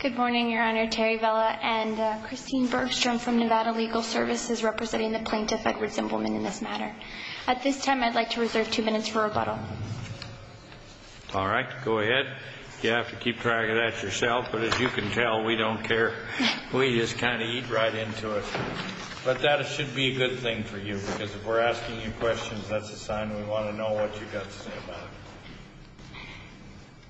Good morning, your honor. Terry Vela and Christine Bergstrom from Nevada Legal Services representing the plaintiff, Edward Zimbelman, in this matter. At this time I'd like to reserve two minutes for rebuttal. All right, go ahead. You have to keep track of that yourself, but as you can tell, we don't care. We just kind of eat right into it. But that should be a good thing for you because if we're asking you questions, that's a sign we want to know what you got to say about it.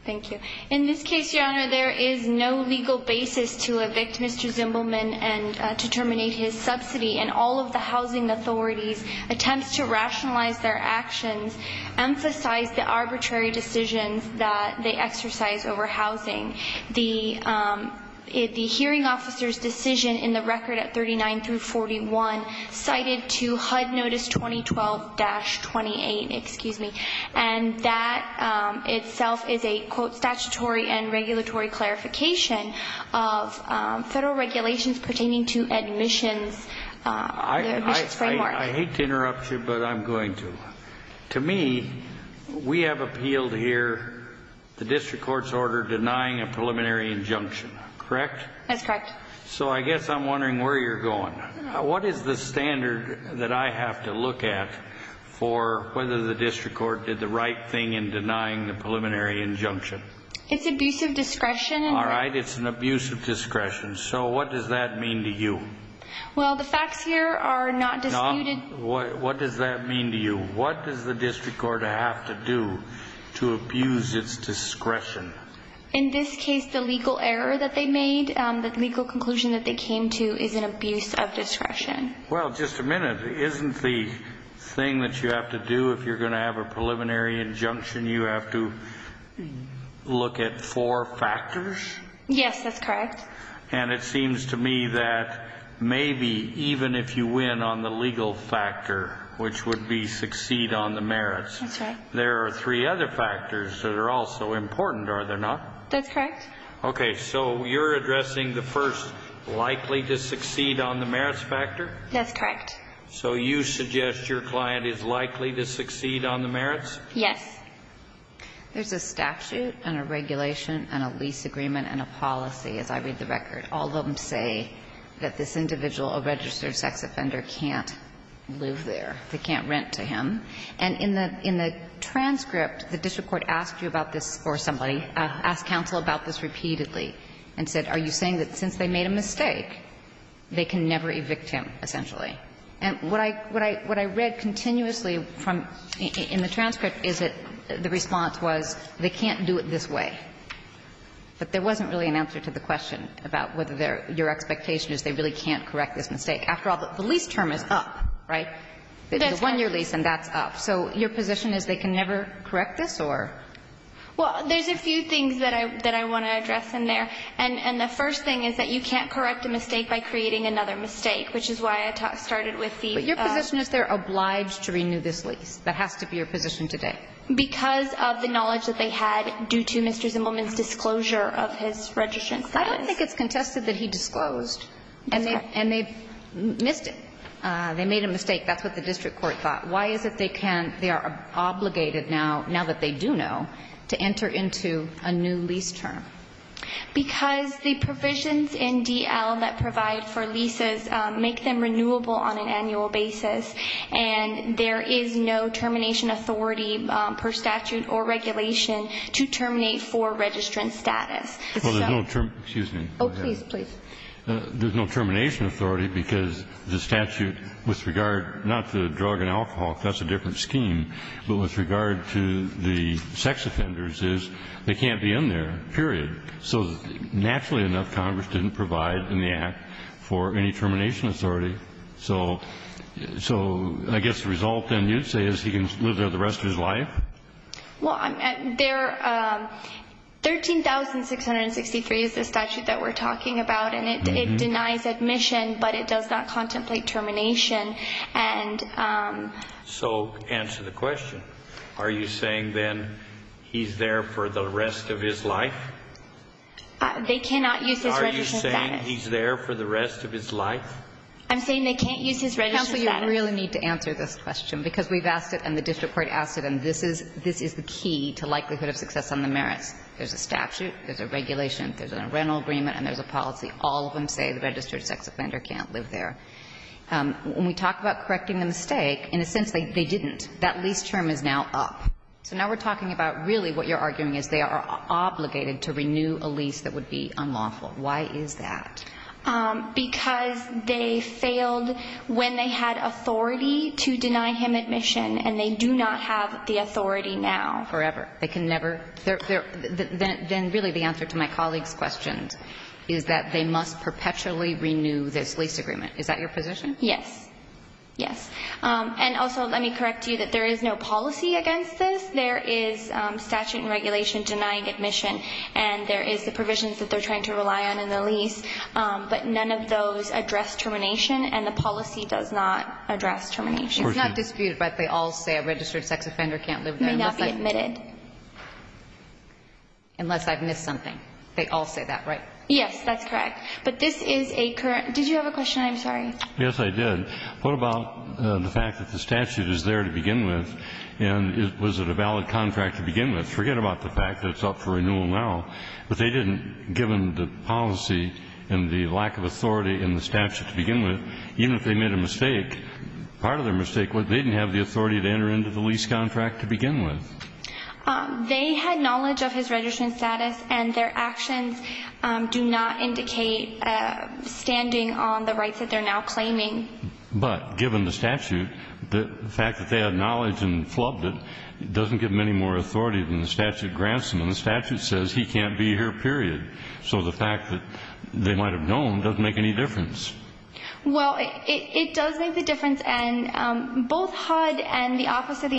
Thank you. In this case, your honor, there is no legal basis to evict Mr. Zimbelman and to terminate his subsidy, and all of the housing authorities' attempts to rationalize their actions emphasize the arbitrary decisions that they exercise over housing. The hearing officer's decision in the record at 39 through 41 cited to HUD Notice 2012-28, excuse me, and that itself is a, quote, statutory and regulatory clarification of federal regulations pertaining to admissions. I hate to interrupt you, but I'm going to. To me, we have appealed here the district court's order denying a preliminary injunction, correct? That's the standard that I have to look at for whether the district court did the right thing in denying the preliminary injunction. It's abuse of discretion. All right, it's an abuse of discretion. So what does that mean to you? Well, the facts here are not disputed. What does that mean to you? What does the district court have to do to abuse its discretion? In this case, the legal error that they Well, just a minute. Isn't the thing that you have to do if you're going to have a preliminary injunction, you have to look at four factors? Yes, that's correct. And it seems to me that maybe even if you win on the legal factor, which would be succeed on the merits, there are three other factors that are also important, are there not? That's correct. Okay, so you're addressing the first likely to That's correct. So you suggest your client is likely to succeed on the merits? Yes. There's a statute and a regulation and a lease agreement and a policy, as I read the record. All of them say that this individual, a registered sex offender, can't live there. They can't rent to him. And in the transcript, the district court asked you about this, or somebody, asked counsel about this repeatedly and said, are you saying that since they made a mistake, they can never evict him, essentially? And what I read continuously from the transcript is that the response was, they can't do it this way. But there wasn't really an answer to the question about whether your expectation is they really can't correct this mistake. After all, the lease term is up, right? That's correct. The one-year lease, and that's up. So your position is they can never correct this, or? Well, there's a few things that I want to address in there. And the first thing is that you can't correct a mistake by creating another mistake, which is why I started with the ---- But your position is they're obliged to renew this lease. That has to be your position today. Because of the knowledge that they had due to Mr. Zimbelman's disclosure of his registered sex. I don't think it's contested that he disclosed. And they've missed it. They made a mistake. That's what the district court thought. Why is it they can't, they are obligated now, now that they do know, to enter into a new lease term? Because the provisions in D.L. that provide for leases make them renewable on an annual basis. And there is no termination authority per statute or regulation to terminate for registrant status. Well, there's no termination authority because the statute, with regard not to the sex offenders, is they can't be in there, period. So naturally enough, Congress didn't provide in the Act for any termination authority. So I guess the result then you'd say is he can live there the rest of his life? Well, there, 13,663 is the statute that we're talking about. And it denies admission, but it does not contemplate termination. So answer the question. Are you saying, then, he's there for the rest of his life? They cannot use his registered status. Are you saying he's there for the rest of his life? I'm saying they can't use his registered status. Counsel, you really need to answer this question, because we've asked it and the district court asked it, and this is the key to likelihood of success on the merits. There's a statute, there's a regulation, there's a rental agreement, and there's a policy. All of them say the registered sex offender can't live there. When we talk about correcting the mistake, in a sense, they didn't. That lease term is now up. So now we're talking about really what you're arguing is they are obligated to renew a lease that would be unlawful. Why is that? Because they failed when they had authority to deny him admission, and they do not have the authority now. Forever. They can never? Then really the answer to my colleague's question is that they must perpetually renew this lease agreement. Is that your position? Yes. Yes. And also let me correct you that there is no policy against this. There is statute and regulation denying admission, and there is the provisions that they're trying to rely on in the lease, but none of those address termination, and the policy does not address termination. It's not disputed, but they all say a registered sex offender can't live there. May not be admitted. Unless I've missed something. They all say that, right? Yes, that's correct. But this is a current. Did you have a question? I'm sorry. Yes, I did. What about the fact that the statute is there to begin with, and was it a valid contract to begin with? Forget about the fact that it's up for renewal now. But they didn't, given the policy and the lack of authority in the statute to begin with, even if they made a mistake, part of their mistake was they didn't have the authority to enter into the lease contract to begin with. They had knowledge of his registration status, and their actions do not indicate standing on the rights that they're now claiming. But given the statute, the fact that they had knowledge and flubbed it doesn't give them any more authority than the statute grants them, and the statute says he can't be here, period. So the fact that they might have known doesn't make any difference. Well, it does make the difference, and both HUD and the Office of the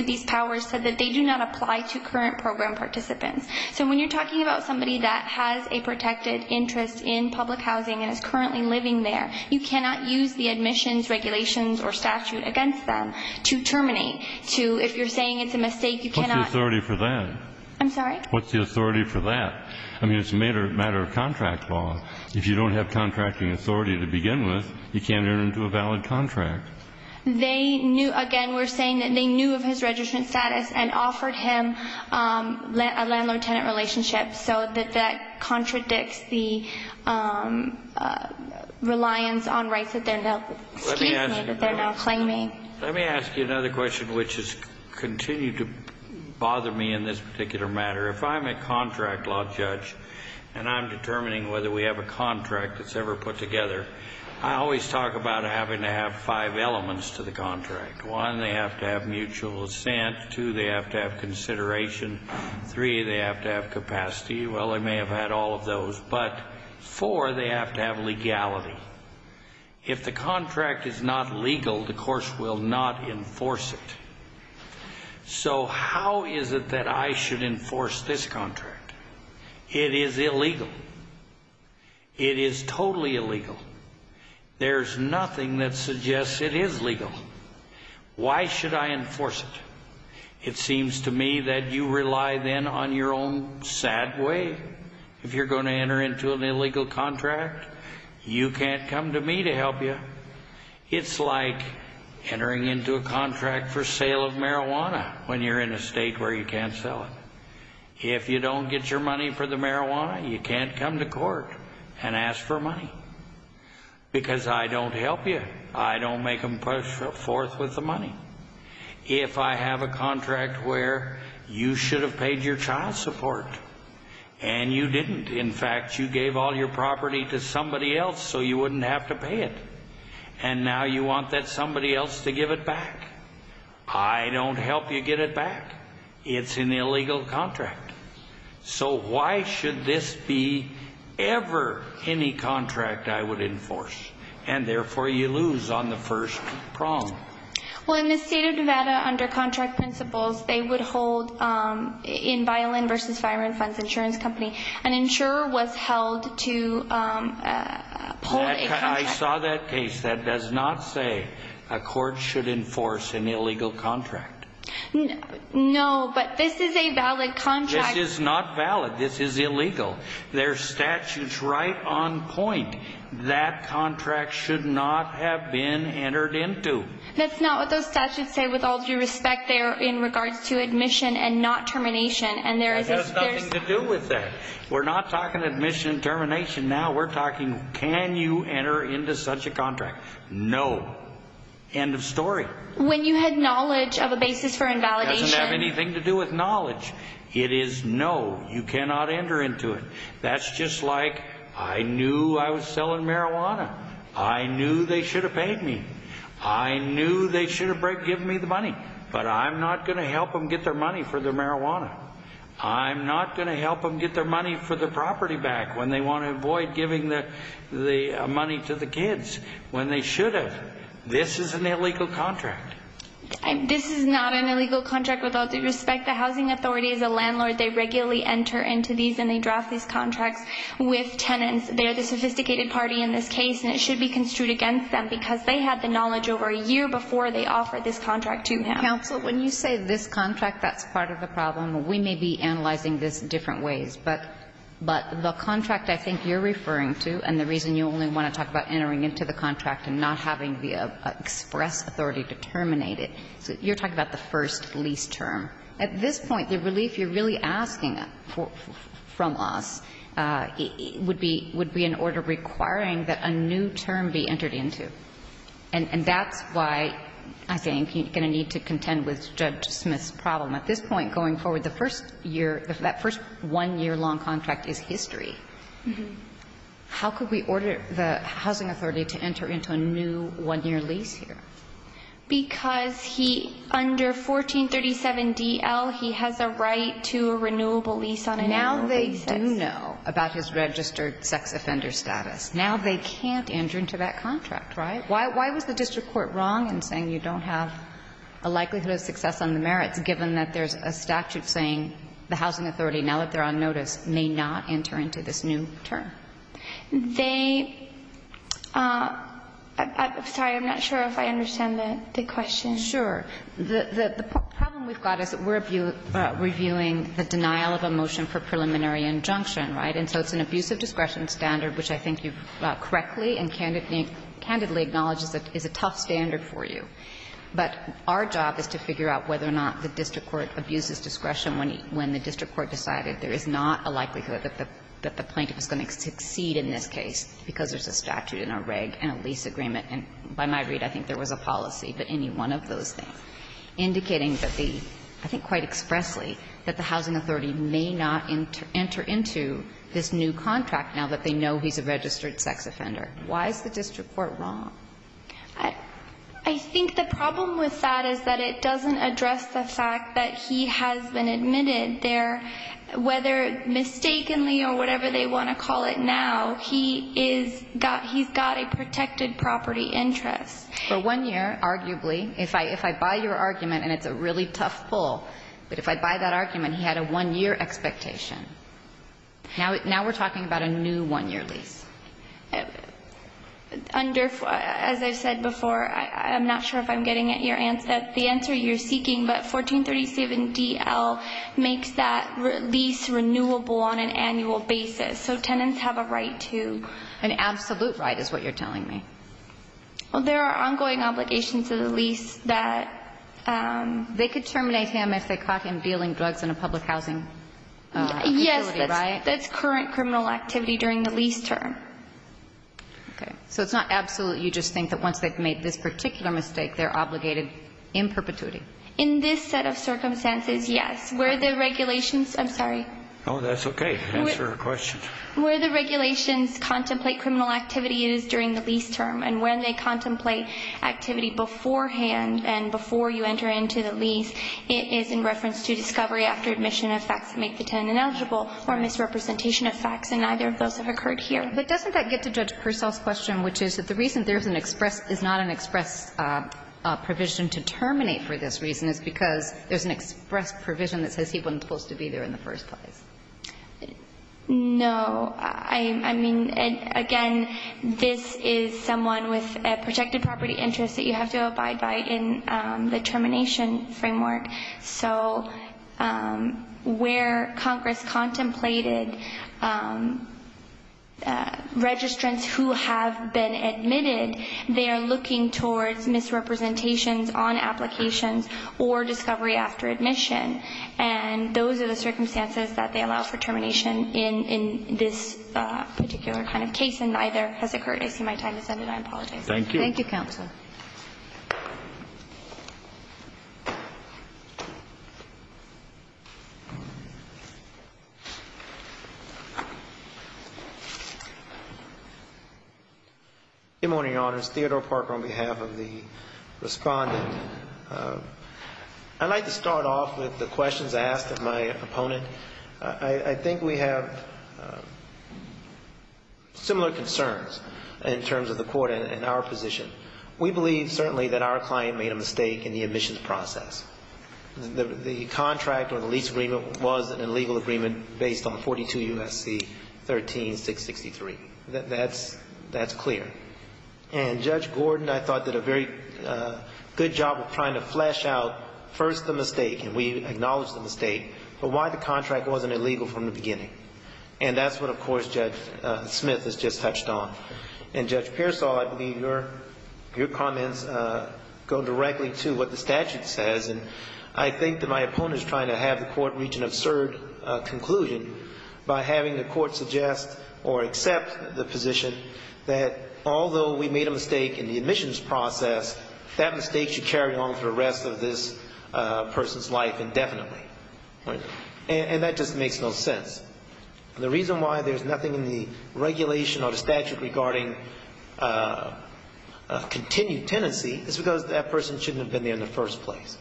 Lease Powers said that they do not apply to current program participants. So when you're talking about somebody that has a protected interest in public housing and is currently living there, you cannot use the admissions regulations or statute against them to terminate. If you're saying it's a mistake, you cannot What's the authority for that? I'm sorry? What's the authority for that? I mean, it's a matter of contract law. If you don't have contracting authority to begin with, you can't enter into a valid contract. They knew, again, we're saying that they knew of his registrant status and offered him a landlord-tenant relationship, so that that contradicts the reliance on rights that they're now claiming. Let me ask you another question, which has continued to bother me in this particular matter. If I'm a contract law judge, and I'm determining whether we have a contract that's ever put together, I always talk about having to have five elements to the contract. One, they have to have mutual assent. Two, they have to have consideration. Three, they have to have capacity. Well, they may have had all of those, but four, they have to have legality. If the contract is not legal, the course will not enforce it. So how is it that I should enforce this contract? It is illegal. It is totally illegal. There's nothing that suggests it is legal. Why should I enforce it? It seems to me that you rely then on your own sad way. If you're going to enter into an illegal contract, you can't come to me to help you. It's like entering into a contract for sale of marijuana when you're in a state where you can't sell it. If you don't get your money for the marijuana, you can't come to court and ask for money. Because I don't help you. I don't make them push forth with the money. If I have a contract where you should have paid your child support, and you didn't. In fact, you gave all your property to somebody else so you wouldn't have to pay it. And now you want that somebody else to give it back. I don't help you get it back. It's an illegal contract. So why should this be ever any contract I would enforce? And therefore you lose on the first prong. Well, in the state of Nevada, under contract principles, they would hold in Violin vs. Firearm Funds Insurance Company, an insurer was held to uphold a contract. I saw that case. That does not say a court should enforce an illegal contract. No, but this is a valid contract. This is not valid. This is illegal. There's statutes right on point. That contract should not have been entered into. That's not what those statutes say with all due respect. They are in regards to admission and not termination. And there is... That has nothing to do with that. We're not talking admission and termination now. We're talking can you enter into such a contract? No. End of story. When you had knowledge of a basis for invalidation... It doesn't have anything to do with knowledge. It is no. You know, I was selling marijuana. I knew they should have paid me. I knew they should have given me the money. But I'm not going to help them get their money for their marijuana. I'm not going to help them get their money for their property back when they want to avoid giving the money to the kids when they should have. This is an illegal contract. This is not an illegal contract with all due respect. The Housing Authority is a landlord. They regularly enter into these and they draft these contracts with tenants. They're the sophisticated party in this case. And it should be construed against them because they had the knowledge over a year before they offered this contract to him. Counsel, when you say this contract, that's part of the problem. We may be analyzing this different ways. But the contract I think you're referring to and the reason you only want to talk about entering into the contract and not having the express authority to terminate it, you're talking about the first lease term. At this point, the relief you're really asking from us would be an order requiring that a new term be entered into. And that's why I think you're going to need to contend with Judge Smith's problem. At this point going forward, the first year, that first one-year long contract is history. How could we order the Housing Authority to enter into a new one-year lease here? Because he, under 1437 DL, he has a right to a renewable lease on an annual basis. Now they do know about his registered sex offender status. Now they can't enter into that contract, right? Why was the district court wrong in saying you don't have a likelihood of success on the merits given that there's a statute saying the Housing Authority, now that they're on notice, may not enter into this new term? They, I'm sorry, I'm not sure if I understand the question. Sure. The problem we've got is we're reviewing the denial of a motion for preliminary injunction, right? And so it's an abuse of discretion standard, which I think you've correctly and candidly acknowledged is a tough standard for you. But our job is to figure out whether or not the district court abuses discretion when the district court decided there is not a likelihood that the plaintiff is going to succeed in this case because there's a statute and a reg and a lease agreement. And by my read, I think there was a policy that any one of those things, indicating that the, I think quite expressly, that the Housing Authority may not enter into this new contract now that they know he's a registered sex offender. Why is the district court wrong? I think the problem with that is that it doesn't address the fact that he has been admitted there, whether mistakenly or whatever they want to call it now, he is got, he's got a protected property interest. For one year, arguably, if I, if I buy your argument, and it's a really tough pull, but if I buy that argument, he had a one-year expectation. Now, now we're talking about a new one-year lease. Under, as I said before, I'm not sure if I'm getting at your answer, the answer you're seeking, but 1437 D.L. makes that lease renewable on an annual basis. So tenants have a right to. An absolute right is what you're telling me. Well, there are ongoing obligations to the lease that. They could terminate him if they caught him dealing drugs in a public housing facility, right? Yes, that's current criminal activity during the lease term. Okay. So it's not absolute. You just think that once they've made this particular mistake, they're obligated in perpetuity. In this set of circumstances, yes, where the regulations, I'm sorry. Oh, that's okay. Answer her question. Where the regulations contemplate criminal activity is during the lease term, and when they contemplate activity beforehand and before you enter into the lease, it is in reference to discovery after admission of facts that make the tenant ineligible or misrepresentation of facts, and neither of those have occurred here. But doesn't that get to Judge Purcell's question, which is that the reason there is not an express provision to terminate for this reason is because there's an express provision that says he wasn't supposed to be there in the first place? No. I mean, again, this is someone with a protected property interest that you have to abide by in the termination framework. So where Congress contemplated registrants who have been admitted, they are looking towards misrepresentations on applications or discovery after admission, and those are the circumstances that they allow for termination in this particular kind of case, and neither has occurred. I see my time has ended. I apologize. Thank you. Thank you, Counsel. Good morning, Your Honors. Theodore Parker on behalf of the Respondent. I'd like to start off with the questions asked of my opponent. I think we have similar concerns in terms of the Court and our position. We believe, certainly, that our client made a mistake in the admissions process. The comment that was made by the Respondent, that the contract or the lease agreement was an illegal agreement based on 42 U.S.C. 13663. That's clear. And Judge Gordon, I thought, did a very good job of trying to flesh out first the mistake, and we acknowledge the mistake, but why the contract wasn't illegal from the beginning. And that's what, of course, Judge Smith has just touched on. And Judge Pearsall, I believe your comments go directly to what the statute says. And I think that my opponent is trying to have the Court reach an absurd conclusion by having the Court suggest or accept the position that although we made a mistake in the admissions process, that mistake should carry on for the rest of this person's life indefinitely. And that just makes no sense. The reason why there's nothing in the regulation or the statute regarding continued tenancy is because that person shouldn't have been there in the first place.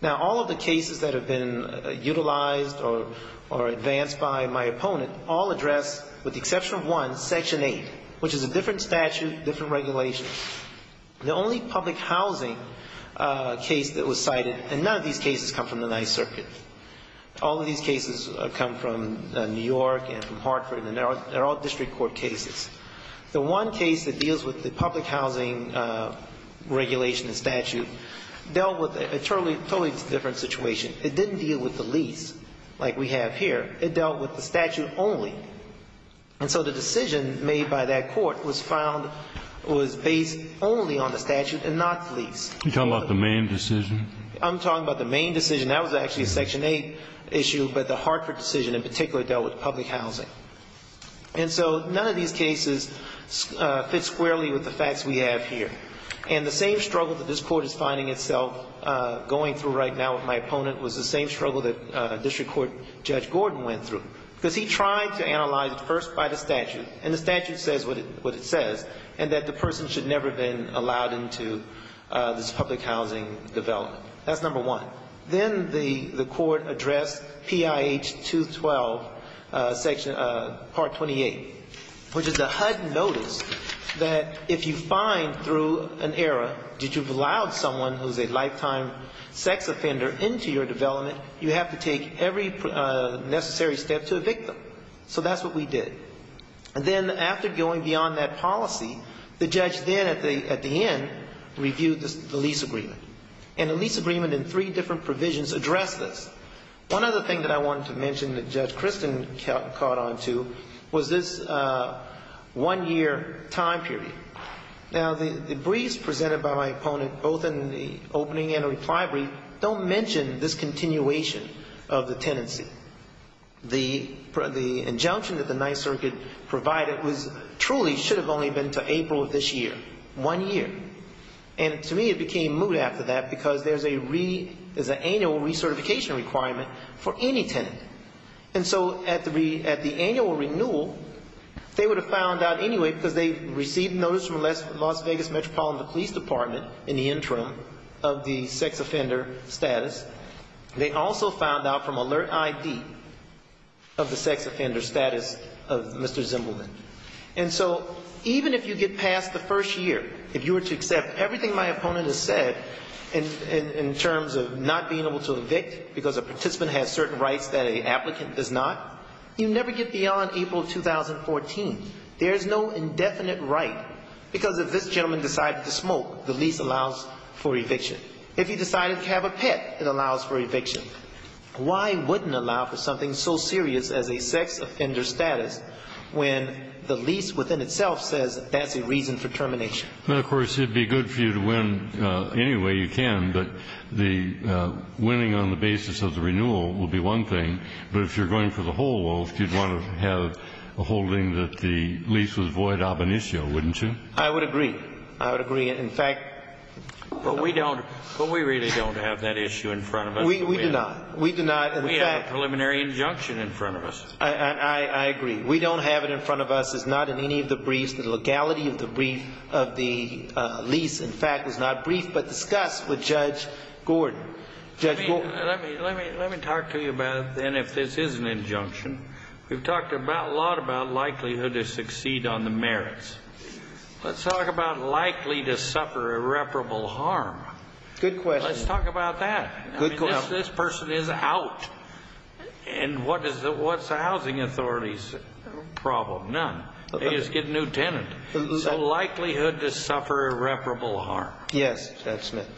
Now, all of the cases that have been utilized or advanced by my opponent all address, with the exception of one, Section 8, which is a different statute, different regulations. The only public housing case that was cited, and none of these cases come from the Ninth Circuit. All of these cases come from New York and from Hartford, and they're all District Court cases. The one case that deals with the public housing regulation and statute dealt with a totally different situation. It didn't deal with the lease, like we have here. It dealt with the statute only. And so the decision made by that Court was based only on the statute and not the lease. You're talking about the main decision? I'm talking about the main decision. That was actually a Section 8 issue, but the Hartford decision in particular dealt with public housing. And so none of these cases fit squarely with the facts we have here. And the same struggle that this Court is finding itself going through right now with my opponent was the same struggle that District Court Judge Gordon went through. Because he tried to analyze it first by the statute, and the statute says what it says, and that the person should never have been allowed into this public housing development. That's number one. Then the Court addressed PIH 212, Part 28, which is a HUD notice that if you find through an error that you've allowed someone who's a lifetime sex offender into your development, you have to take every necessary step to evict them. So that's what we did. And then after going beyond that policy, the judge then at the end reviewed the lease agreement. And the lease agreement and three different provisions address this. One other thing that I wanted to mention that Judge mentioned was this one-year time period. Now the briefs presented by my opponent, both in the opening and the reply brief don't mention this continuation of the tenancy. The injunction that the Ninth Circuit provided truly should have only been to April of this year, one year. And to me it became moot after that because there's an annual recertification requirement for any tenant. And so at the annual renewal, they would have found out anyway because they received notice from Las Vegas Metropolitan Police Department in the interim of the sex offender status. They also found out from Alert ID of the sex offender status of Mr. Zimbelman. And so even if you get past the first year, if you were to accept everything my opponent has said in terms of not being able to evict because a participant has certain rights that an applicant does not, you never get beyond April of 2014. There is no indefinite right because if this gentleman decided to smoke, the lease allows for eviction. If he decided to have a pet, it allows for eviction. Why wouldn't allow for something so serious as a sex offender status when the lease within itself says that's a reason for termination? It would be good for you to win anyway you can, but the winning on the basis of the renewal would be one thing, but if you're going for the whole wealth, you'd want to have a holding that the lease was void ab initio, wouldn't you? I would agree. I would agree. In fact We really don't have that issue in front of us. We do not. We do not. We have a preliminary injunction in front of us. I agree. We don't have it in front of us. It's not in any of the briefs. The legality of the brief of the lease, in fact, is not brief but discussed with Judge Gordon. Let me talk to you about it then if this is an injunction. We've talked a lot about likelihood to succeed on the merits. Let's talk about likely to suffer irreparable harm. Good question. Let's talk about that. This person is out. What's the housing authority's problem? None. They just get a new tenant. So likelihood to suffer irreparable harm. Yes, Judge Smith.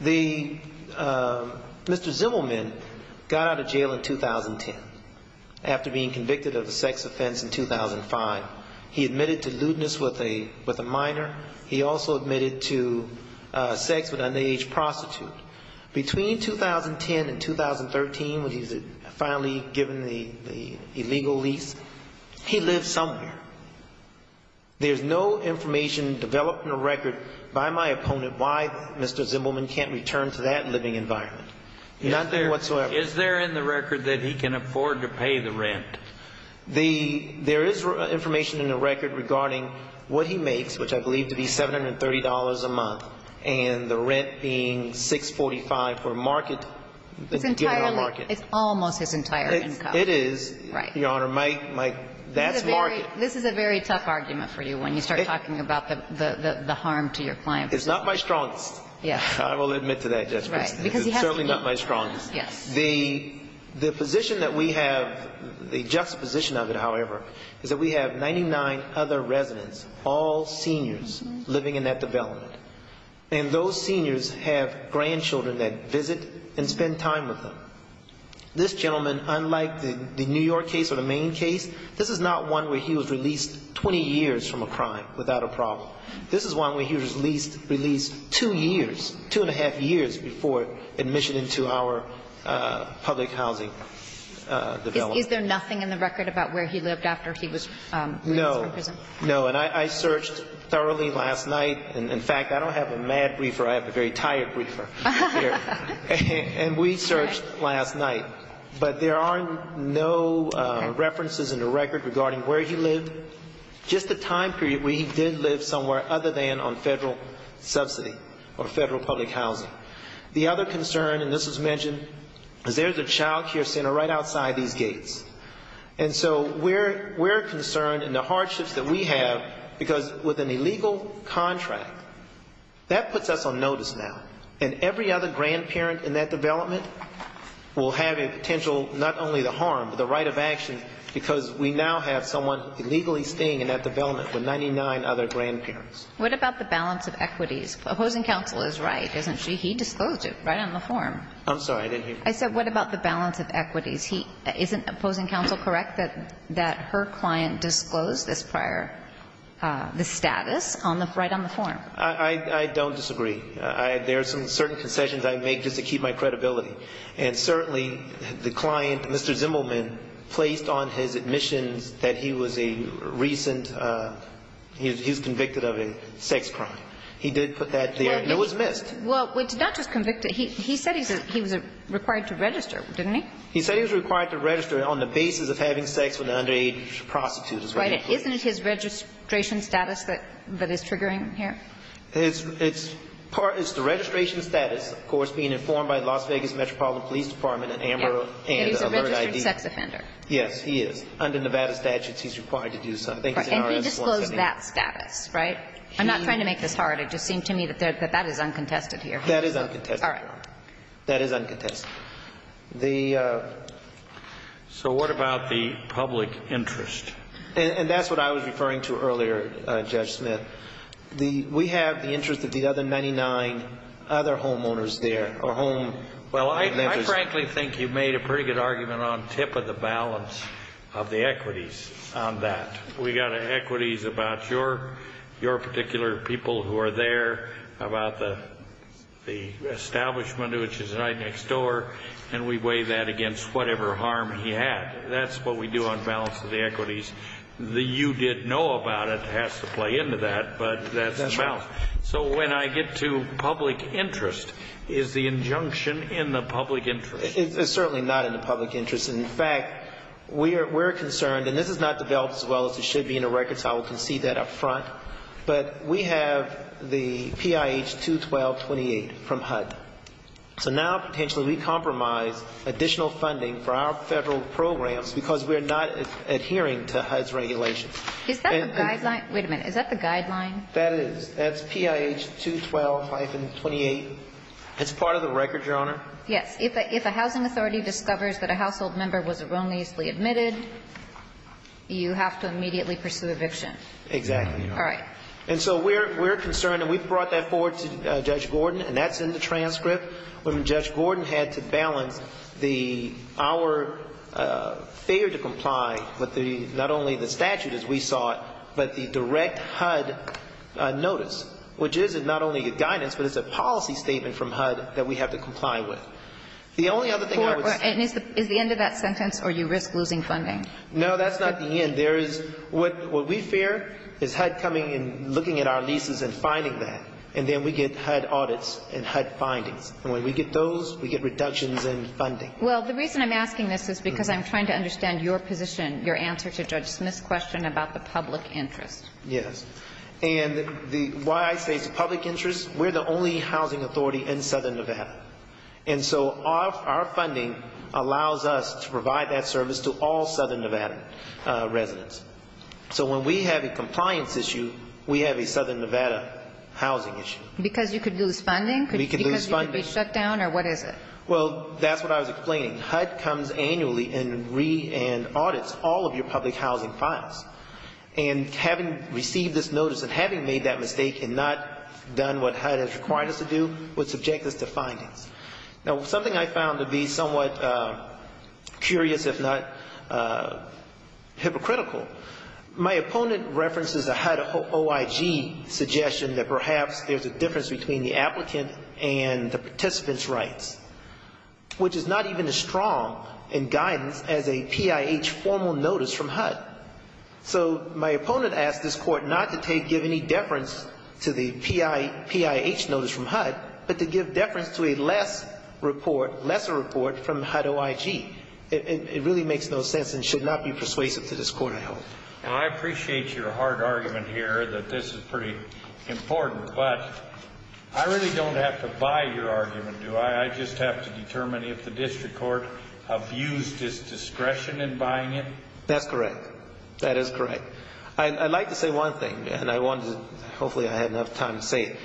Mr. Zimmelman got out of jail in 2010 after being convicted of a sex offense in 2005. He admitted to lewdness with a minor. He also admitted to sex with an underage prostitute. Between 2010 and 2013, when he was finally given the illegal lease, he lived somewhere. There's no information developed in the record by my opponent why Mr. Zimmelman can't return to that living environment. Nothing whatsoever. Is there in the record that he can afford to pay the rent? There is information in the record regarding what he makes, which I believe to be $730 a month, and the rent being $645 for market. It's almost his entire income. It is, Your Honor. That's market. This is a very tough argument for you when you start talking about the harm to your client. It's not my strongest. I will admit to that, Judge Smith. It's certainly not my strongest. The position that we have, the juxtaposition of it, however, is that we have 99 other residents, all seniors, living in that development. And those seniors have grandchildren that visit and spend time with them. This gentleman, unlike the New York case or the Maine case, this is not one where he was released 20 years from a crime without a problem. This is one where he was released two years, two and a half years before admission into our public housing development. Is there nothing in the record about where he lived after he was released from prison? No. And I searched thoroughly last night. In fact, I don't have a mad briefer. I have a very tired briefer. And we searched last night. But there are no references in the record regarding where he lived, just the time period where he did live somewhere other than on federal subsidy or federal public housing. The other concern, and this was mentioned, is there's a child care center right outside these gates. And so we're concerned in the hardships that we have, because with an illegal contract, that puts us on notice now. And every other grandparent in that development will have a potential not only to harm, but the right of action because we now have someone illegally staying in that development with 99 other grandparents. What about the balance of equities? Opposing counsel is right, isn't she? He disclosed it right on the form. I'm sorry, I didn't hear. I said what about the balance of equities? Isn't opposing counsel correct that her client disclosed this prior, this status right on the form? I don't disagree. There are some certain concessions I make just to keep my credibility. And certainly the client, Mr. Zimmelman, placed on his admissions that he was a recent, he was convicted of a sex crime. He did put that there. It was missed. Well, it's not just convicted. He said he was required to register, didn't he? He said he was required to register on the basis of having sex with an underage prostitute. Isn't it his registration status that is triggering here? It's part, it's the registration status, of course, being informed by the Las Vegas Metropolitan Police Department and AMBER and Alert ID. He's a registered sex offender. Yes, he is. Under Nevada statutes, he's required to do so. And he disclosed that status, right? I'm not trying to make this hard. It just seemed to me that that is uncontested here. That is uncontested. All right. That is uncontested. The... So what about the public interest? And that's what I was referring to earlier, Judge Smith. We have the interest of the other 99 other homeowners there, or home... Well, I frankly think you've made a pretty good argument on tip of the balance of the equities on that. We've got equities about your particular people who are there, about the establishment, which is right next door, and we weigh that against whatever harm he had. That's what we do on balance of the equities. The you did know about it has to play into that, but that's the balance. So when I get to public interest, is the injunction in the public interest? It's certainly not in the public interest. In fact, we're concerned, and this is not developed as well as it should be in the records. I will concede that up front. But we have the PIH 21228 from HUD. So now potentially we compromise additional funding for our federal programs because we're not adhering to HUD's regulations. Is that the guideline? Wait a minute. Is that the guideline? That is. That's PIH 212 hyphen 28. It's part of the record, Your Honor. Yes. If a housing authority discovers that a household member was wrongly admitted, you have to immediately pursue eviction. Exactly, Your Honor. And so we're concerned, and we've brought that forward to Judge Gordon, and that's in the transcript. When Judge Gordon had to balance the our failure to comply with not only the statute as we saw it, but the direct HUD notice, which is not only a guidance, but it's a policy statement from HUD that we have to comply with. The only other thing I would say Is the end of that sentence or you risk losing funding? No, that's not the end. There is what we fear is HUD coming and looking at our leases and finding that. And then we get HUD audits and HUD findings. And when we get those, we get reductions in funding. Well, the reason I'm asking this is because I'm trying to understand your position, your answer to Judge Smith's question about the public interest. Yes. And why I say it's a public interest, we're the only housing authority in Southern Nevada. And so our funding allows us to provide that service to all Southern Nevada residents. So when we have a compliance issue, we have a Southern Nevada housing issue. Because you could lose funding? Because you could be shut down or what is it? Well, that's what I was explaining. HUD comes annually and audits all of your public housing files. And having received this notice and having made that mistake and not done what HUD has required us to do would subject us to findings. Now, something I found to be somewhat curious, if not hypocritical, my opponent references a HUD OIG suggestion that perhaps there's a difference between the applicant and the participant's rights, which is not even as strong in guidance as a PIH formal notice from HUD. So my opponent asks this court not to give any deference to the PIH notice from HUD, but to give deference to a less report, lesser report from HUD OIG. It really makes no sense and should not be persuasive to this court, I hope. Now, I appreciate your hard argument here that this is pretty important, but I really don't have to buy your argument, do I? I just have to determine if the district court abused its discretion in buying it? That's correct. That is correct. I'd like to say one thing and I wanted to, hopefully I had enough time to say it.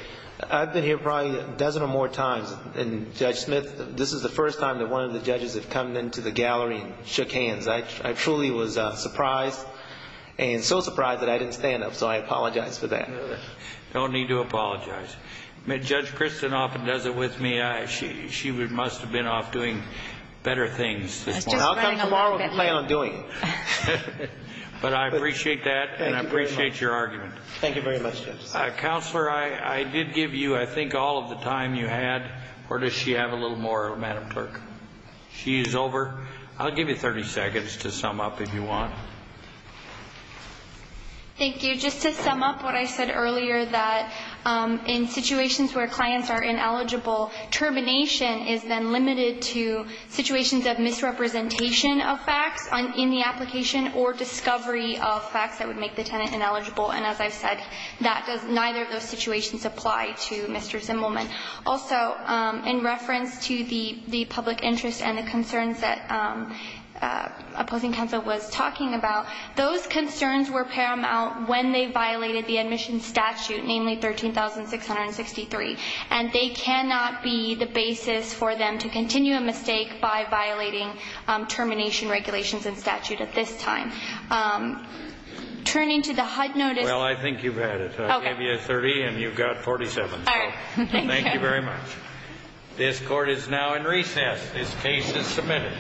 I've been here probably a dozen or more times and Judge Smith, this is the first time that one of the judges have come into the gallery and shook hands. I truly was surprised and so I apologize for that. No need to apologize. Judge Kristen often does it with me. She must have been off doing better things this morning. I'll come tomorrow and complain on doing it. But I appreciate that and I appreciate your argument. Thank you very much, Judge. Counselor, I did give you, I think, all of the time you had or does she have a little more, Madam Clerk? She is over. I'll give you 30 seconds to sum up if you want. Thank you. Just to sum up what I said earlier that in situations where clients are ineligible termination is then limited to situations of misrepresentation of facts in the application or discovery of facts that would make the tenant ineligible. And as I've said, neither of those situations apply to Mr. Zimmelman. Also, in reference to the public interest and the concerns that opposing counsel was talking about, those concerns were paramount when they violated the admission statute, namely 13,663. And they cannot be the basis for them to continue a mistake by violating termination regulations and statute at this time. Turning to the HUD notice. Well, I think you've had it. I gave you a 30 and you've got 47. Thank you very much. This court is now in recess. This case is submitted.